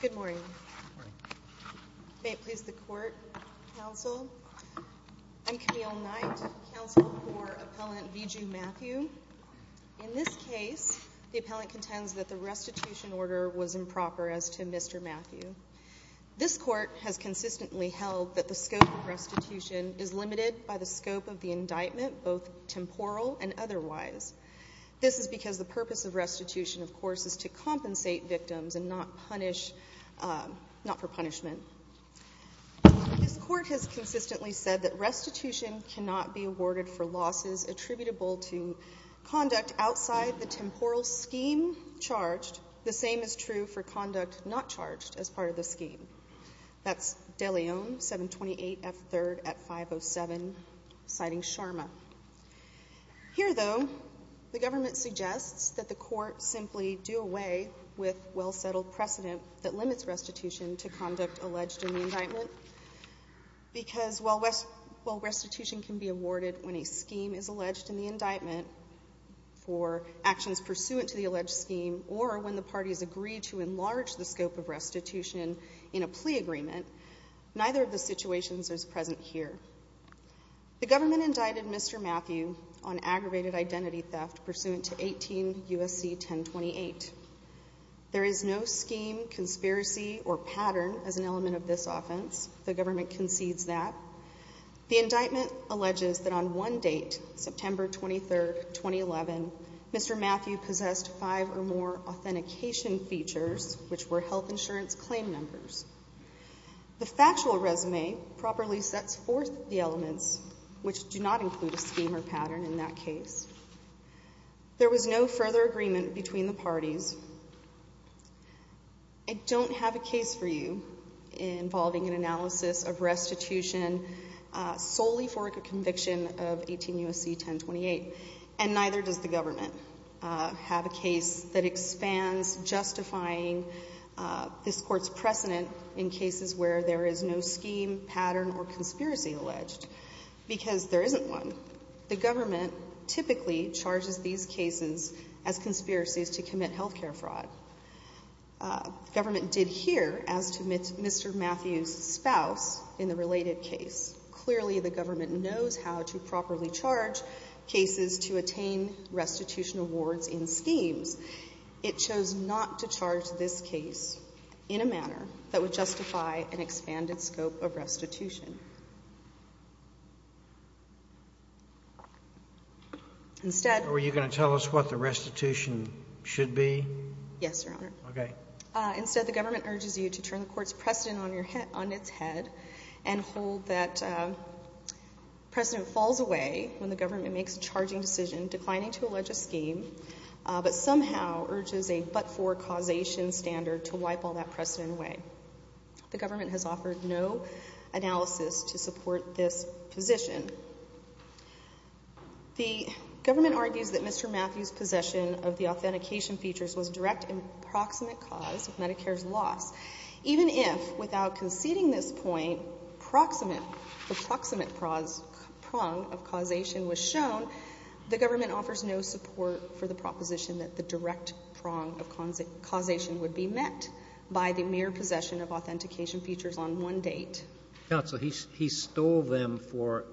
Good morning. May it please the court, counsel. I'm Camille Knight, counsel for Appellant Viju Mathew. In this case, the appellant contends that the restitution order was improper as to Mr. Mathew. This court has consistently held that the scope of restitution is limited by the scope of the indictment, both temporal and otherwise. This is because the purpose of restitution, of course, is to compensate victims and not for punishment. This court has consistently said that restitution cannot be awarded for losses attributable to conduct outside the temporal scheme charged. The same is true for conduct not charged as part of the scheme. That's De Leon, 728 F. 3rd at 507, citing Sharma. Here, though, the government suggests that the court simply do away with well-settled precedent that limits restitution to conduct alleged in the indictment, because while restitution can be awarded when a scheme is alleged in the indictment for actions pursuant to the alleged scheme or when the parties agree to enlarge the scope of restitution in a plea agreement, neither of the situations is present here. The government indicted Mr. Mathew on aggravated identity theft pursuant to 18 U.S.C. 1028. There is no scheme, conspiracy, or pattern as an element of this offense. The government concedes that. The indictment alleges that on one date, September 23, 2011, Mr. Mathew possessed five or more authentication features, which were health insurance claim numbers. The factual resume properly sets forth the elements, which do not include a scheme or pattern in that case. There was no further agreement between the parties. I don't have a case for you involving an analysis of restitution solely for a conviction of 18 U.S.C. 1028, and neither does the government have a case that expands justifying this Court's precedent in cases where there is no scheme, pattern, or conspiracy alleged, because there isn't one. The government typically charges these cases as conspiracies to commit health care fraud. The government did here as to Mr. Mathew's spouse in the related case. Clearly, the government knows how to properly charge cases to attain restitution awards in schemes. It chose not to charge this case in a manner that would justify an expanded scope of restitution. Instead we're going to tell us what the restitution should be? Yes, Your Honor. Okay. Instead, the government urges you to turn the Court's precedent on its head and hold that precedent falls away when the government makes a charging decision declining to allege a scheme, but somehow urges a but-for causation standard to wipe all that precedent away. The government has offered no analysis to support this position. The government argues that Mr. Mathew's possession of the authentication features was direct and proximate cause of Medicare's loss. Even if, without conceding this point, the proximate prong of causation was shown, the government offers no support for the proposition that the direct prong of causation would be met by the mere possession of authentication features on one date. Counsel, he stole them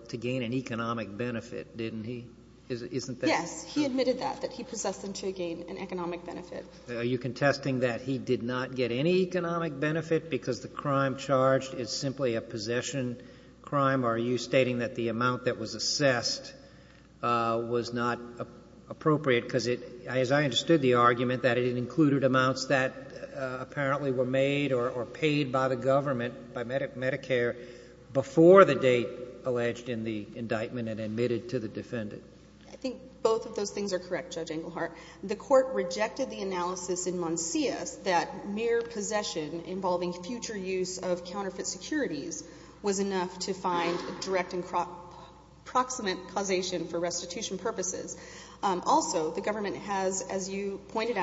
to gain an economic benefit, didn't he? Isn't that true? Yes. He admitted that, that he possessed them to gain an economic benefit. Are you contesting that he did not get any economic benefit because the crime charged is simply a possession crime, or are you stating that the amount that was assessed was not appropriate because it, as I understood the argument, that it included amounts that Medicare before the date alleged in the indictment and admitted to the defendant? I think both of those things are correct, Judge Englehart. The court rejected the analysis in Monsias that mere possession involving future use of counterfeit securities was enough to find direct and proximate causation for restitution purposes. Also, the government has, as you have said,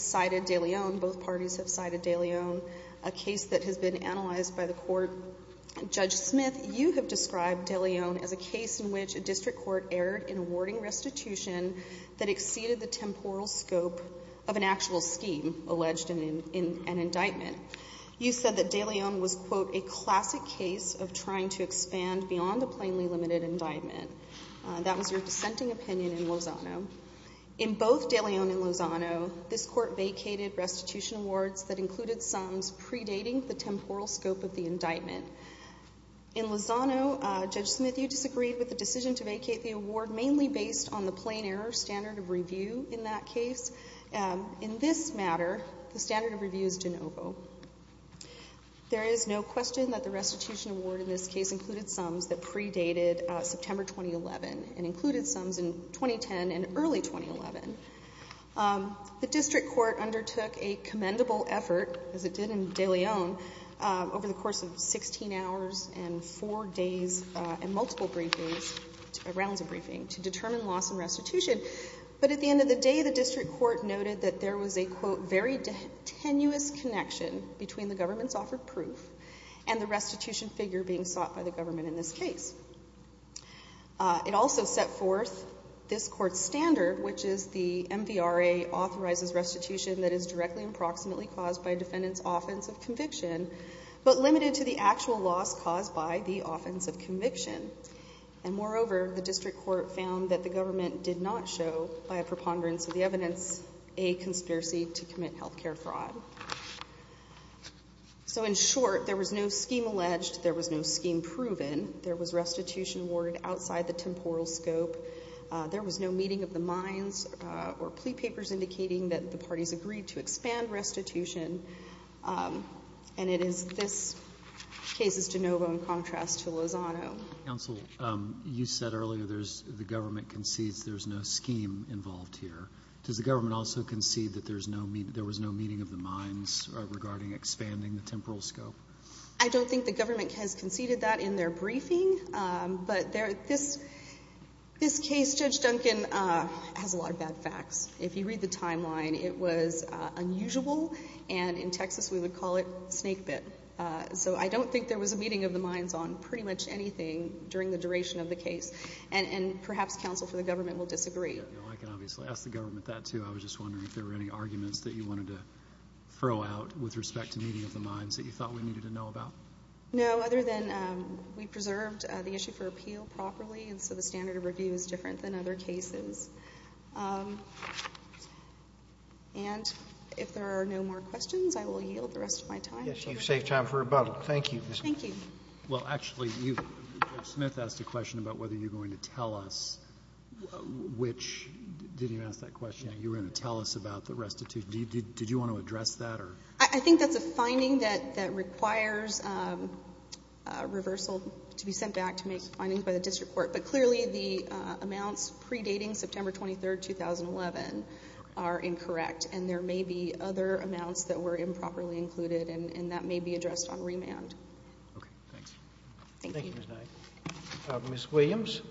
cited De León, both parties have cited De León, a case that has been analyzed by the court. Judge Smith, you have described De León as a case in which a district court erred in awarding restitution that exceeded the temporal scope of an actual scheme alleged in an indictment. You said that De León was, quote, a classic case of trying to expand beyond a plainly limited indictment. That was your dissenting opinion in Lozano. In both De León and Lozano, this court vacated restitution awards that included sums predating the temporal scope of the indictment. In Lozano, Judge Smith, you disagreed with the decision to vacate the award mainly based on the plain error standard of review in that case. In this matter, the standard of review is de novo. There is no question that the restitution award in this case included sums that predated September 2011 and included sums in 2010 and early 2011. The district court undertook a commendable effort, as it did in De León, over the course of 16 hours and four days and multiple briefings, rounds of briefing, to determine loss and restitution. But at the end of the day, the district court noted that there was a, quote, very tenuous connection between the government's offered proof and the restitution figure being sought by the government in this case. It also set forth this court's standard, which is the MVRA authorizes restitution that is directly and proximately caused by a defendant's offense of conviction, but limited to the actual loss caused by the offense of conviction. And moreover, the district court found that the government did not show, by a preponderance of the evidence, a conspiracy to commit health care fraud. So in short, there was no scheme alleged. There was no scheme proven. There was restitution awarded outside the temporal scope. There was no meeting of the minds or plea papers indicating that the parties agreed to expand restitution. And it is this case's de novo in contrast to Lozano. Counsel, you said earlier there's, the government concedes there's no scheme involved here. Does the government also concede that there's no, there was no meeting of the minds regarding expanding the temporal scope? I don't think the government has conceded that in their briefing. But this case, Judge Duncan, has a lot of bad facts. If you read the timeline, it was unusual and in Texas we would call it snake bit. So I don't think there was a meeting of the minds on pretty much anything during the duration of the case. And perhaps counsel for the government will disagree. I can obviously ask the government that too. I was just wondering if there were any arguments that you wanted to throw out with respect to meeting of the minds that you thought we needed to know about? No, other than we preserved the issue for appeal properly. And so the standard of review is different than other cases. And if there are no more questions, I will yield the rest of my time. Yes, you've saved time for rebuttal. Thank you. Thank you. Well, actually, you, Judge Smith, asked a question about whether you're going to tell us which, did you ask that question? You were going to tell us about the restitution. Did you want to address that? I think that's a finding that requires reversal to be sent back to make findings by the district court. But clearly, the amounts predating September 23, 2011 are incorrect. And there may be other amounts that were improperly included. And that may be addressed on remand. Okay, thanks. Thank you. Thank you, Ms. Knight. Ms. Williams.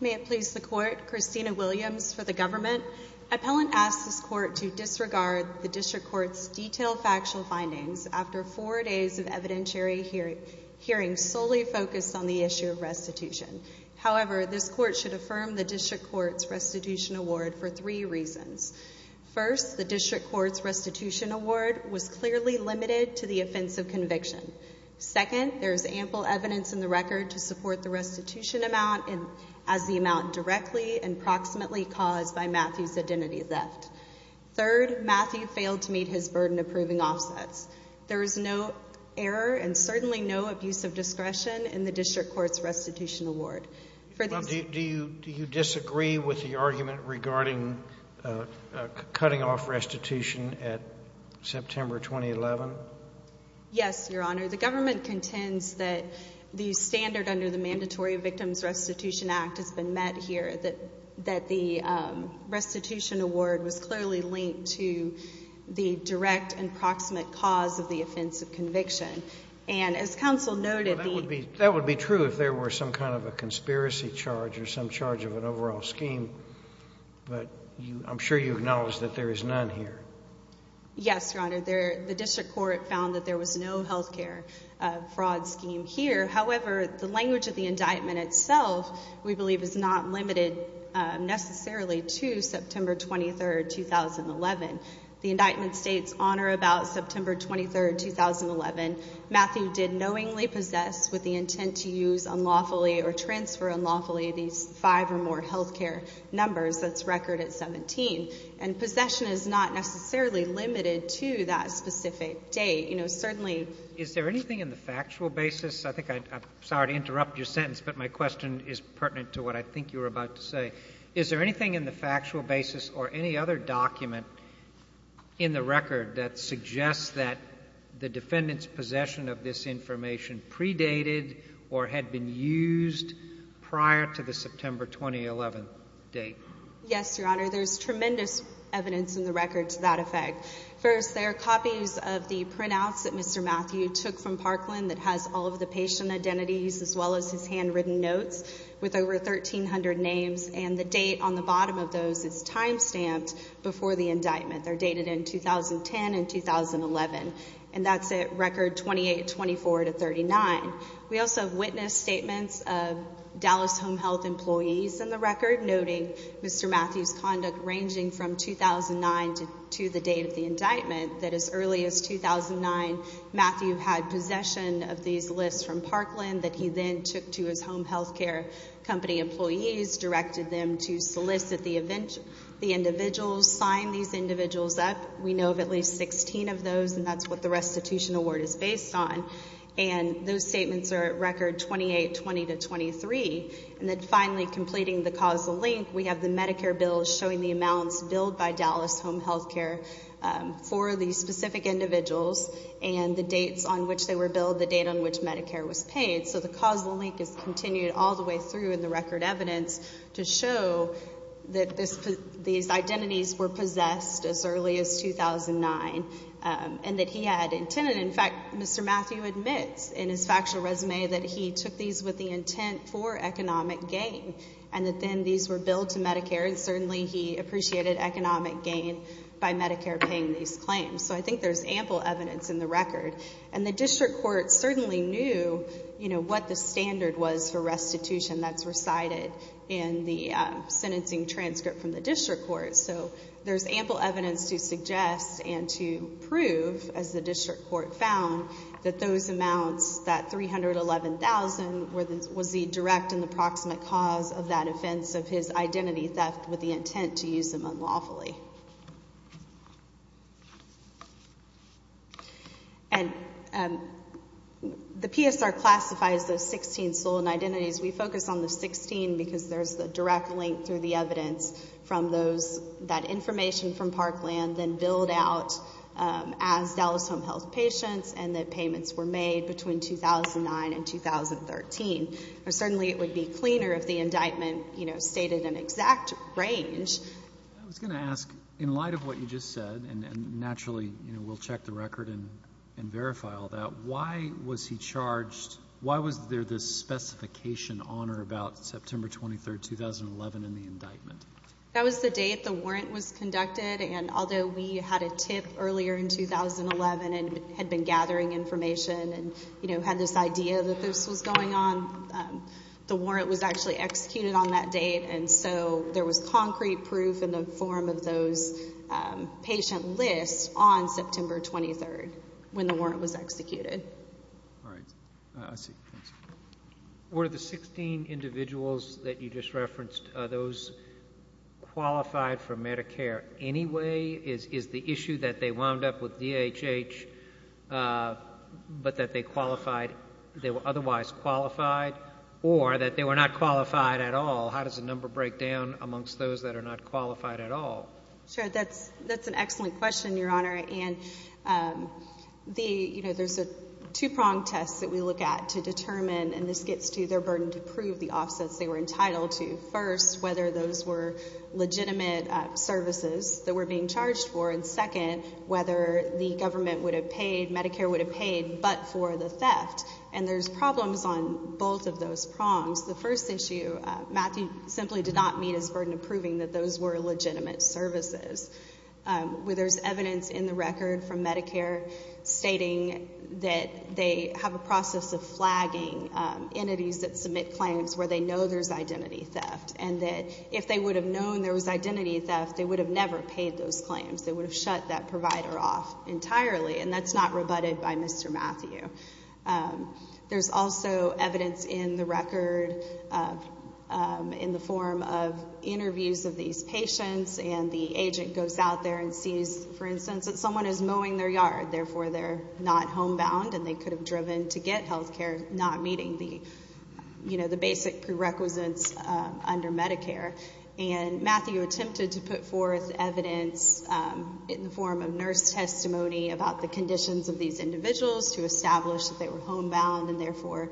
May it please the Court, Christina Williams for the government. Appellant asks this Court to disregard the district court's detailed factual findings after four days of evidentiary hearing solely focused on the issue of restitution. However, this Court should affirm the district court's restitution award for three reasons. First, the district court's restitution award was clearly limited to the offense of conviction. Second, there is ample evidence in the record to support the restitution amount as the amount directly and approximately caused by Matthew's identity theft. Third, Matthew failed to meet his burden of proving offsets. There is no error and certainly no abuse of discretion in the district court's restitution award. Do you disagree with the argument regarding cutting off restitution at September 2011? Yes, Your Honor. The government contends that the standard under the Mandatory Victims Restitution Act has been met here, that the restitution award was clearly linked to the direct and proximate cause of the offense of conviction. And as counsel noted, the That would be true if there were some kind of a conspiracy charge or some charge of an overall scheme, but I'm sure you acknowledge that there is none here. Yes, Your Honor. The district court found that there was no health care fraud scheme here. However, the language of the indictment itself, we believe, is not limited necessarily to September 23, 2011. The indictment states, on or about September 23, 2011, Matthew did knowingly possess with the intent to use unlawfully or transfer unlawfully these five or more health care numbers. That's record at 17. And possession is not necessarily limited to that specific date. You know, certainly Is there anything in the factual basis? I think I, sorry to interrupt your sentence, but my question is pertinent to what I think you were about to say. Is there anything in the factual basis or any other document in the record that suggests that the defendant's possession of this information predated or had been used prior to the September 2011 date? Yes, Your Honor. There's tremendous evidence in the record to that effect. First, there are copies of the printouts that Mr. Matthew took from Parkland that has all of the patient identities as well as his handwritten notes with over 1,300 names. And the date on the bottom of those is time stamped before the indictment. They're dated in 2010 and 2011. And that's at record 28-24-39. We also have witness statements of Dallas Home Health employees in the record noting Mr. Matthew's conduct ranging from 2009 to the date of the indictment that as early as 2009, Matthew had possession of these lists from Parkland that he then took to his home health care company employees, directed them to solicit the individuals, sign these individuals up. We know of at least 16 of those, and that's what the restitution award is based on. And those statements are at record 28-20-23. And then finally, completing the causal link, we have the Medicare bill showing the amounts billed by Dallas Home Health Care for these specific individuals and the dates on which they were billed, the date on which Medicare was paid. So the causal link is continued all the way through in the record evidence to show that these identities were possessed as early as 2009 and that he had intended. In fact, Mr. Matthew admits in his factual resume that he took these with the intent for economic gain and that then these were billed to Medicare and certainly he appreciated economic gain by Medicare paying these claims. So I think there's ample evidence in the record. And the district court certainly knew what the standard was for restitution that's recited in the sentencing transcript from the district court. So there's ample evidence to suggest and to prove, as the district court found, that those amounts, that $311,000, was the direct and the proximate cause of that offense of his identity theft with the intent to use him unlawfully. And the PSR classifies those 16 stolen identities. We focus on the 16 because there's the direct link through the evidence from those, that information from Parkland then billed out as Dallas Home Health patients and that payments were made between 2009 and 2013. Certainly it would be cleaner if the indictment, you know, stated an exact range. I was going to ask, in light of what you just said, and naturally we'll check the record and verify all that, why was he charged, why was there this specification on or about September 23, 2011 in the indictment? That was the date the warrant was conducted and although we had a tip earlier in 2011 and had been gathering information and, you know, had this idea that this was going on, the warrant was actually executed on that date and so there was concrete proof in the form of those patient lists on September 23 when the warrant was executed. All right. I see. Thanks. Were the 16 individuals that you just referenced, those qualified for Medicare anyway? Is the issue that they wound up with DHH but that they qualified, they were otherwise qualified or that they were not qualified at all? How does the number break down amongst those that are not qualified at all? Sure. That's an excellent question, Your Honor. And the, you know, there's a two prong test that we look at to determine, and this gets to their burden to prove the offsets they were entitled to. First, whether those were legitimate services that were being charged for and second, whether the government would have paid, Medicare would have paid but for the theft. And there's problems on both of those prongs. The first issue, Matthew simply did not meet his burden of proving that those were legitimate services. There's evidence in the record from Medicare stating that they have a process of flagging entities that submit claims where they know there's identity theft and that if they would have known there was identity theft, they would have never paid those claims. They would have shut that provider off entirely and that's not rebutted by Mr. Matthew. There's also evidence in the record in the form of interviews of these patients and the agent goes out there and sees, for instance, that someone is mowing their yard, therefore they're not homebound and they could have driven to get health care, not meeting the basic prerequisites under Medicare. And Matthew attempted to put forth evidence in the form of nurse testimony about the conditions of these individuals to establish that they were homebound and therefore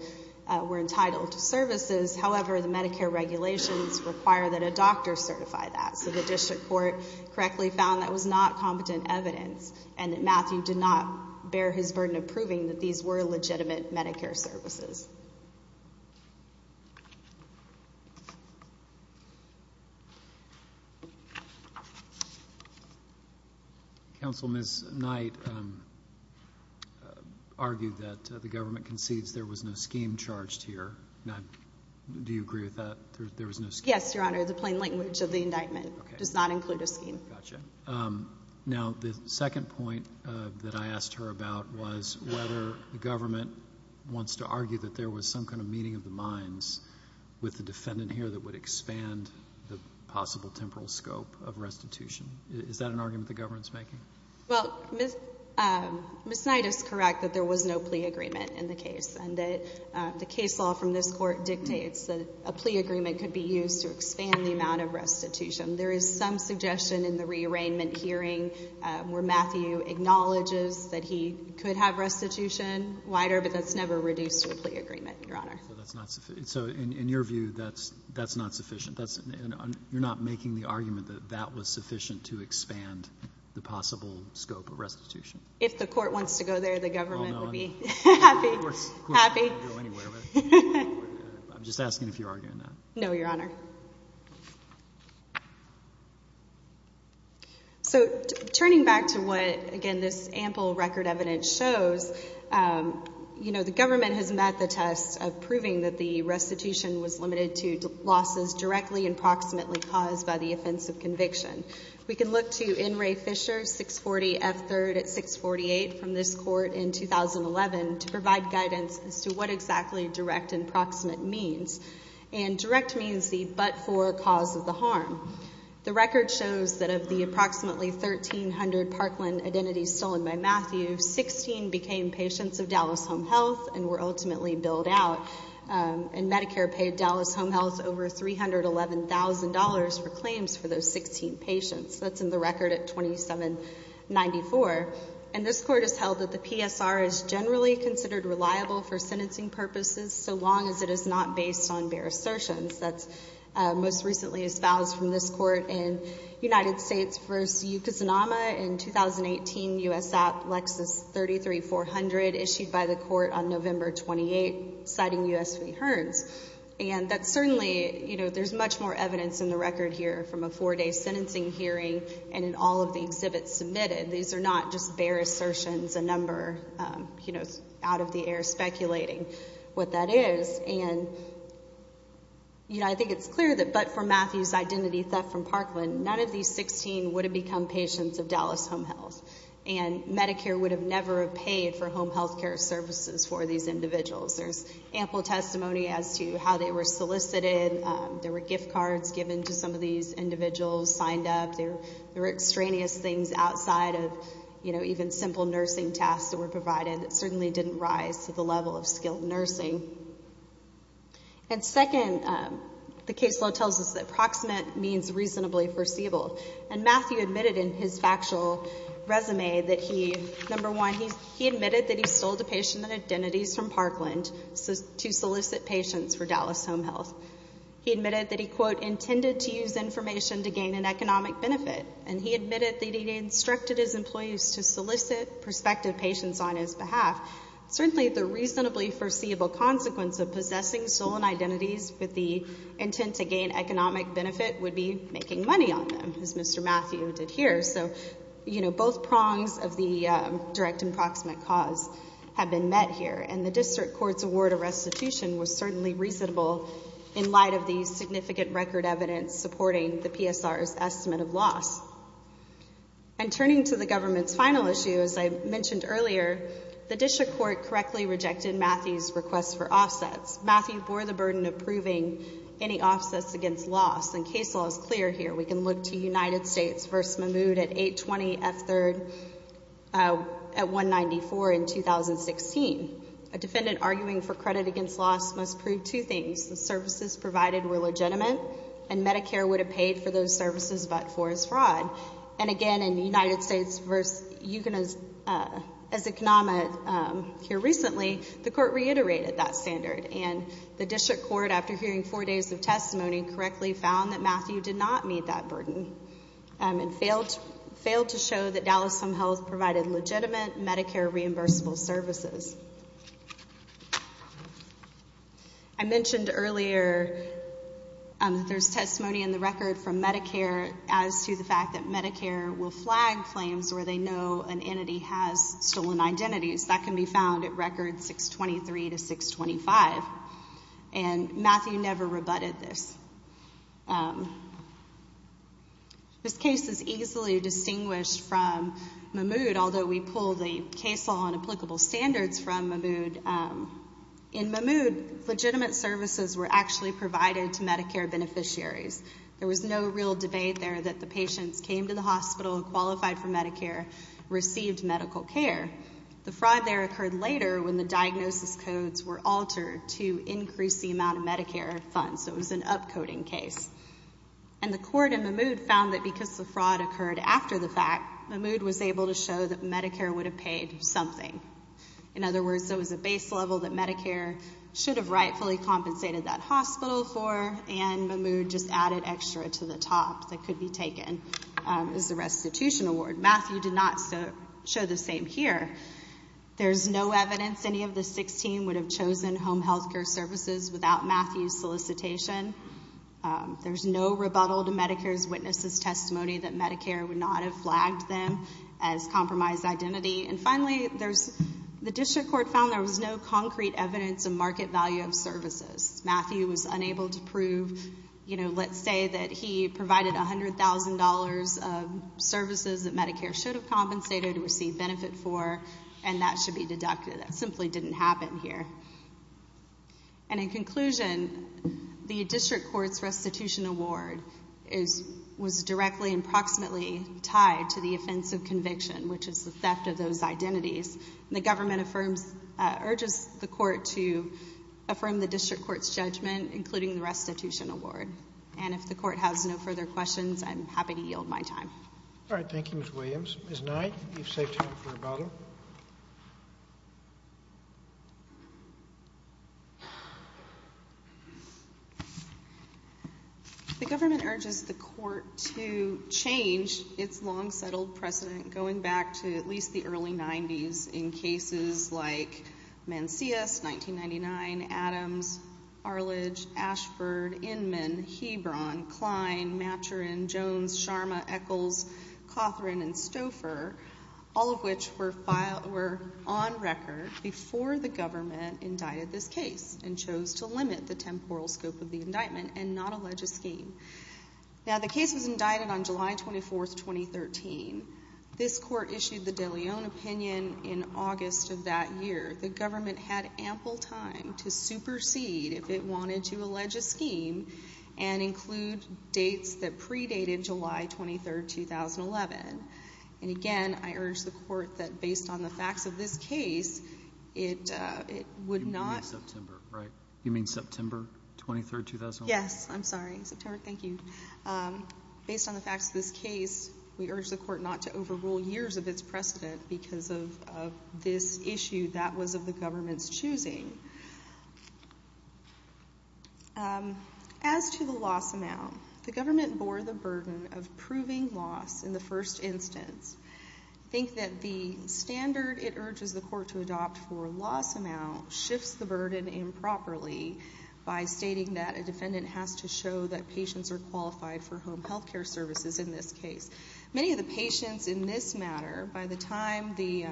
were entitled to services. However, the Medicare regulations require that a doctor certify that. So the district court correctly found that was not competent evidence and that Matthew did not return to proving that these were legitimate Medicare services. Counsel, Ms. Knight argued that the government concedes there was no scheme charged here. Do you agree with that? There was no scheme? Yes, Your Honor. The plain language of the indictment does not include a scheme. Gotcha. Now, the second point that I asked her about was whether the government wants to argue that there was some kind of meeting of the minds with the defendant here that would expand the possible temporal scope of restitution. Is that an argument the government's making? Well, Ms. Knight is correct that there was no plea agreement in the case and that the case law from this court dictates that a plea agreement could be used to expand the amount of restitution. There is some suggestion in the rearrangement hearing where Matthew acknowledges that he could have restitution wider, but that's never reduced to a plea agreement, Your Honor. So in your view, that's not sufficient? You're not making the argument that that was sufficient to expand the possible scope of restitution? If the court wants to go there, the government would be happy. I'm just asking if you're arguing that. No, Your Honor. So turning back to what, again, this ample record evidence shows, you know, the government has met the test of proving that the restitution was limited to losses directly and proximately caused by the offense of conviction. We can look to N. Ray Fisher, 640 F. 3rd at 648 from this court in 2011 to provide guidance as to what exactly direct and proximate means. And direct means the but-for cause of the harm. The record shows that of the approximately 1,300 Parkland identities stolen by Matthew, 16 became patients of Dallas Home Health and were ultimately billed out. And Medicare paid Dallas Home Health over $311,000 for claims for those 16 patients. That's in the record at 2794. And this court has held that the PSR is generally considered reliable for sentencing purposes so long as it is not based on the bare assertions. That's most recently espoused from this court in United States v. Yucca-Zanama in 2018, U.S. App Lexus 33400 issued by the court on November 28, citing U.S. v. Hearns. And that's certainly, you know, there's much more evidence in the record here from a four-day sentencing hearing and in all of the exhibits submitted. These are not just bare assertions, a number, you know, out of the air speculating what that is. And, you know, I think it's clear that but-for Matthew's identity theft from Parkland, none of these 16 would have become patients of Dallas Home Health. And Medicare would have never have paid for home health care services for these individuals. There's ample testimony as to how they were solicited. There were gift cards given to some of these individuals signed up. There were extraneous things outside of, you know, even simple nursing tasks that were provided that certainly didn't rise to the level of skilled nursing. And second, the case law tells us that approximate means reasonably foreseeable. And Matthew admitted in his factual resume that he, number one, he admitted that he stole the patient identities from Parkland to solicit patients for Dallas Home Health. He admitted that he, quote, intended to use information to gain an economic benefit. And he admitted that he instructed his employees to solicit prospective patients on his behalf. Certainly, the reasonably foreseeable consequence of possessing stolen identities with the intent to gain economic benefit would be making money on them as Mr. Matthew did here. So, you know, both prongs of the direct and proximate cause have been met here. And the district court's award of restitution was certainly reasonable in light of these significant record evidence supporting the PSR's estimate of loss. And turning to the government's final issue, as I mentioned earlier, the district court correctly rejected Matthew's request for offsets. Matthew bore the burden of proving any offsets against loss. And case law is clear here. We can look to United States v. Mahmoud at 820F3rd at 194 in 2016. A defendant arguing for credit against loss must prove two things. The services provided were legitimate, and Medicare would have paid for those services, but for his fraud. And again, in United States v. Yugen as Economa here recently, the court reiterated that standard. And the district court, after hearing four days of testimony, correctly found that Matthew did not meet that burden and failed to show that Dallas Home Health provided legitimate Medicare reimbursable services. I mentioned earlier that there's testimony in the record from Medicare as to the fact that Medicare will flag claims where they know an entity has stolen identities. That can be found at records 623 to 625. And Matthew never rebutted this. This case is easily distinguished from Mahmoud, although we pull the case law and applicable standards from Mahmoud. In Mahmoud, legitimate services were actually provided to Medicare beneficiaries. There was no real debate there that the patients came to the hospital, qualified for Medicare, received medical care. The fraud there occurred later when the diagnosis codes were altered to increase the amount of Medicare funds. It was an upcoding case. And the court in Mahmoud found that because the fraud occurred after the fact, Mahmoud was able to show that In other words, there was a base level that Medicare should have rightfully compensated that hospital for, and Mahmoud just added extra to the top that could be taken as a restitution award. Matthew did not show the same here. There's no evidence any of the 16 would have chosen home health care services without Matthew's solicitation. There's no rebuttal to Medicare's witnesses' testimony that Medicare would not have flagged them as compromised identity. And finally, the district court found there was no concrete evidence of market value of services. Matthew was unable to prove, you know, let's say that he provided $100,000 of services that Medicare should have compensated or received benefit for, and that should be deducted. That simply didn't happen here. And in conclusion, the court has a conviction, which is the theft of those identities. The government affirms, urges the court to affirm the district court's judgment, including the restitution award. And if the court has no further questions, I'm happy to yield my time. All right. Thank you, Ms. Williams. Ms. Knight, you've saved time for a bottle. The government urges the government, going back to at least the early 90s in cases like Mancius, 1999, Adams, Arledge, Ashford, Inman, Hebron, Klein, Maturin, Jones, Sharma, Echols, Cawthorne, and Stouffer, all of which were on record before the government indicted this case and chose to limit the temporal scope of the indictment and not allege a scheme. Now, the case was indicted on July 24th, 2013. This court issued the De Leon opinion in August of that year. The government had ample time to supersede if it wanted to allege a scheme and include dates that predated July 23rd, 2011. And again, I urge the court that based on the facts of this case, it would not You mean September, right? You mean September 23rd, 2011? Yes. I'm sorry. September. Thank you. Based on the facts of this case, we urge the court not to overrule years of its precedent because of this issue that was of the government's choosing. As to the loss amount, the government bore the burden of proving loss in the first instance. I think that the standard it urges the court to adopt for loss amount shifts the burden improperly by stating that a defendant has to show that patients are qualified for home health care services in this case. Many of the patients in this matter, by the time the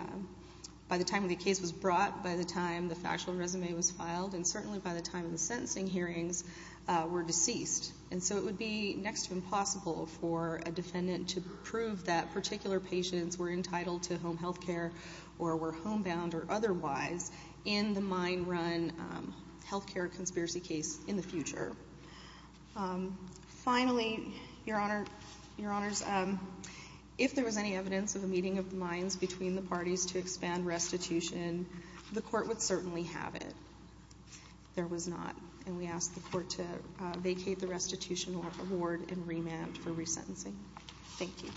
case was brought, by the time the factual resume was filed, and certainly by the time of the sentencing hearings, were deceased. And so it would be next to impossible for a defendant to prove that particular patients were entitled to home health care or were homebound or otherwise in the mine run health care conspiracy case in the future. Finally, Your Honor, Your Honors, if there was any evidence of a meeting of the mines between the parties to expand restitution, the court would certainly have it. There was not. And we ask the court to vacate the restitution award and remand for resentencing. Thank you.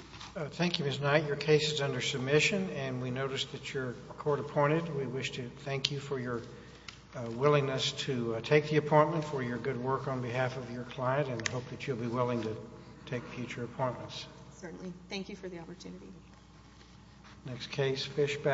Thank you, Ms. Knight. Your case is under submission and we notice that you're court appointed. We wish to thank you for your willingness to take the appointment for your good work on behalf of your client and hope that you'll be willing to take future appointments. Certainly. Thank you for the opportunity. Next case, Fishback.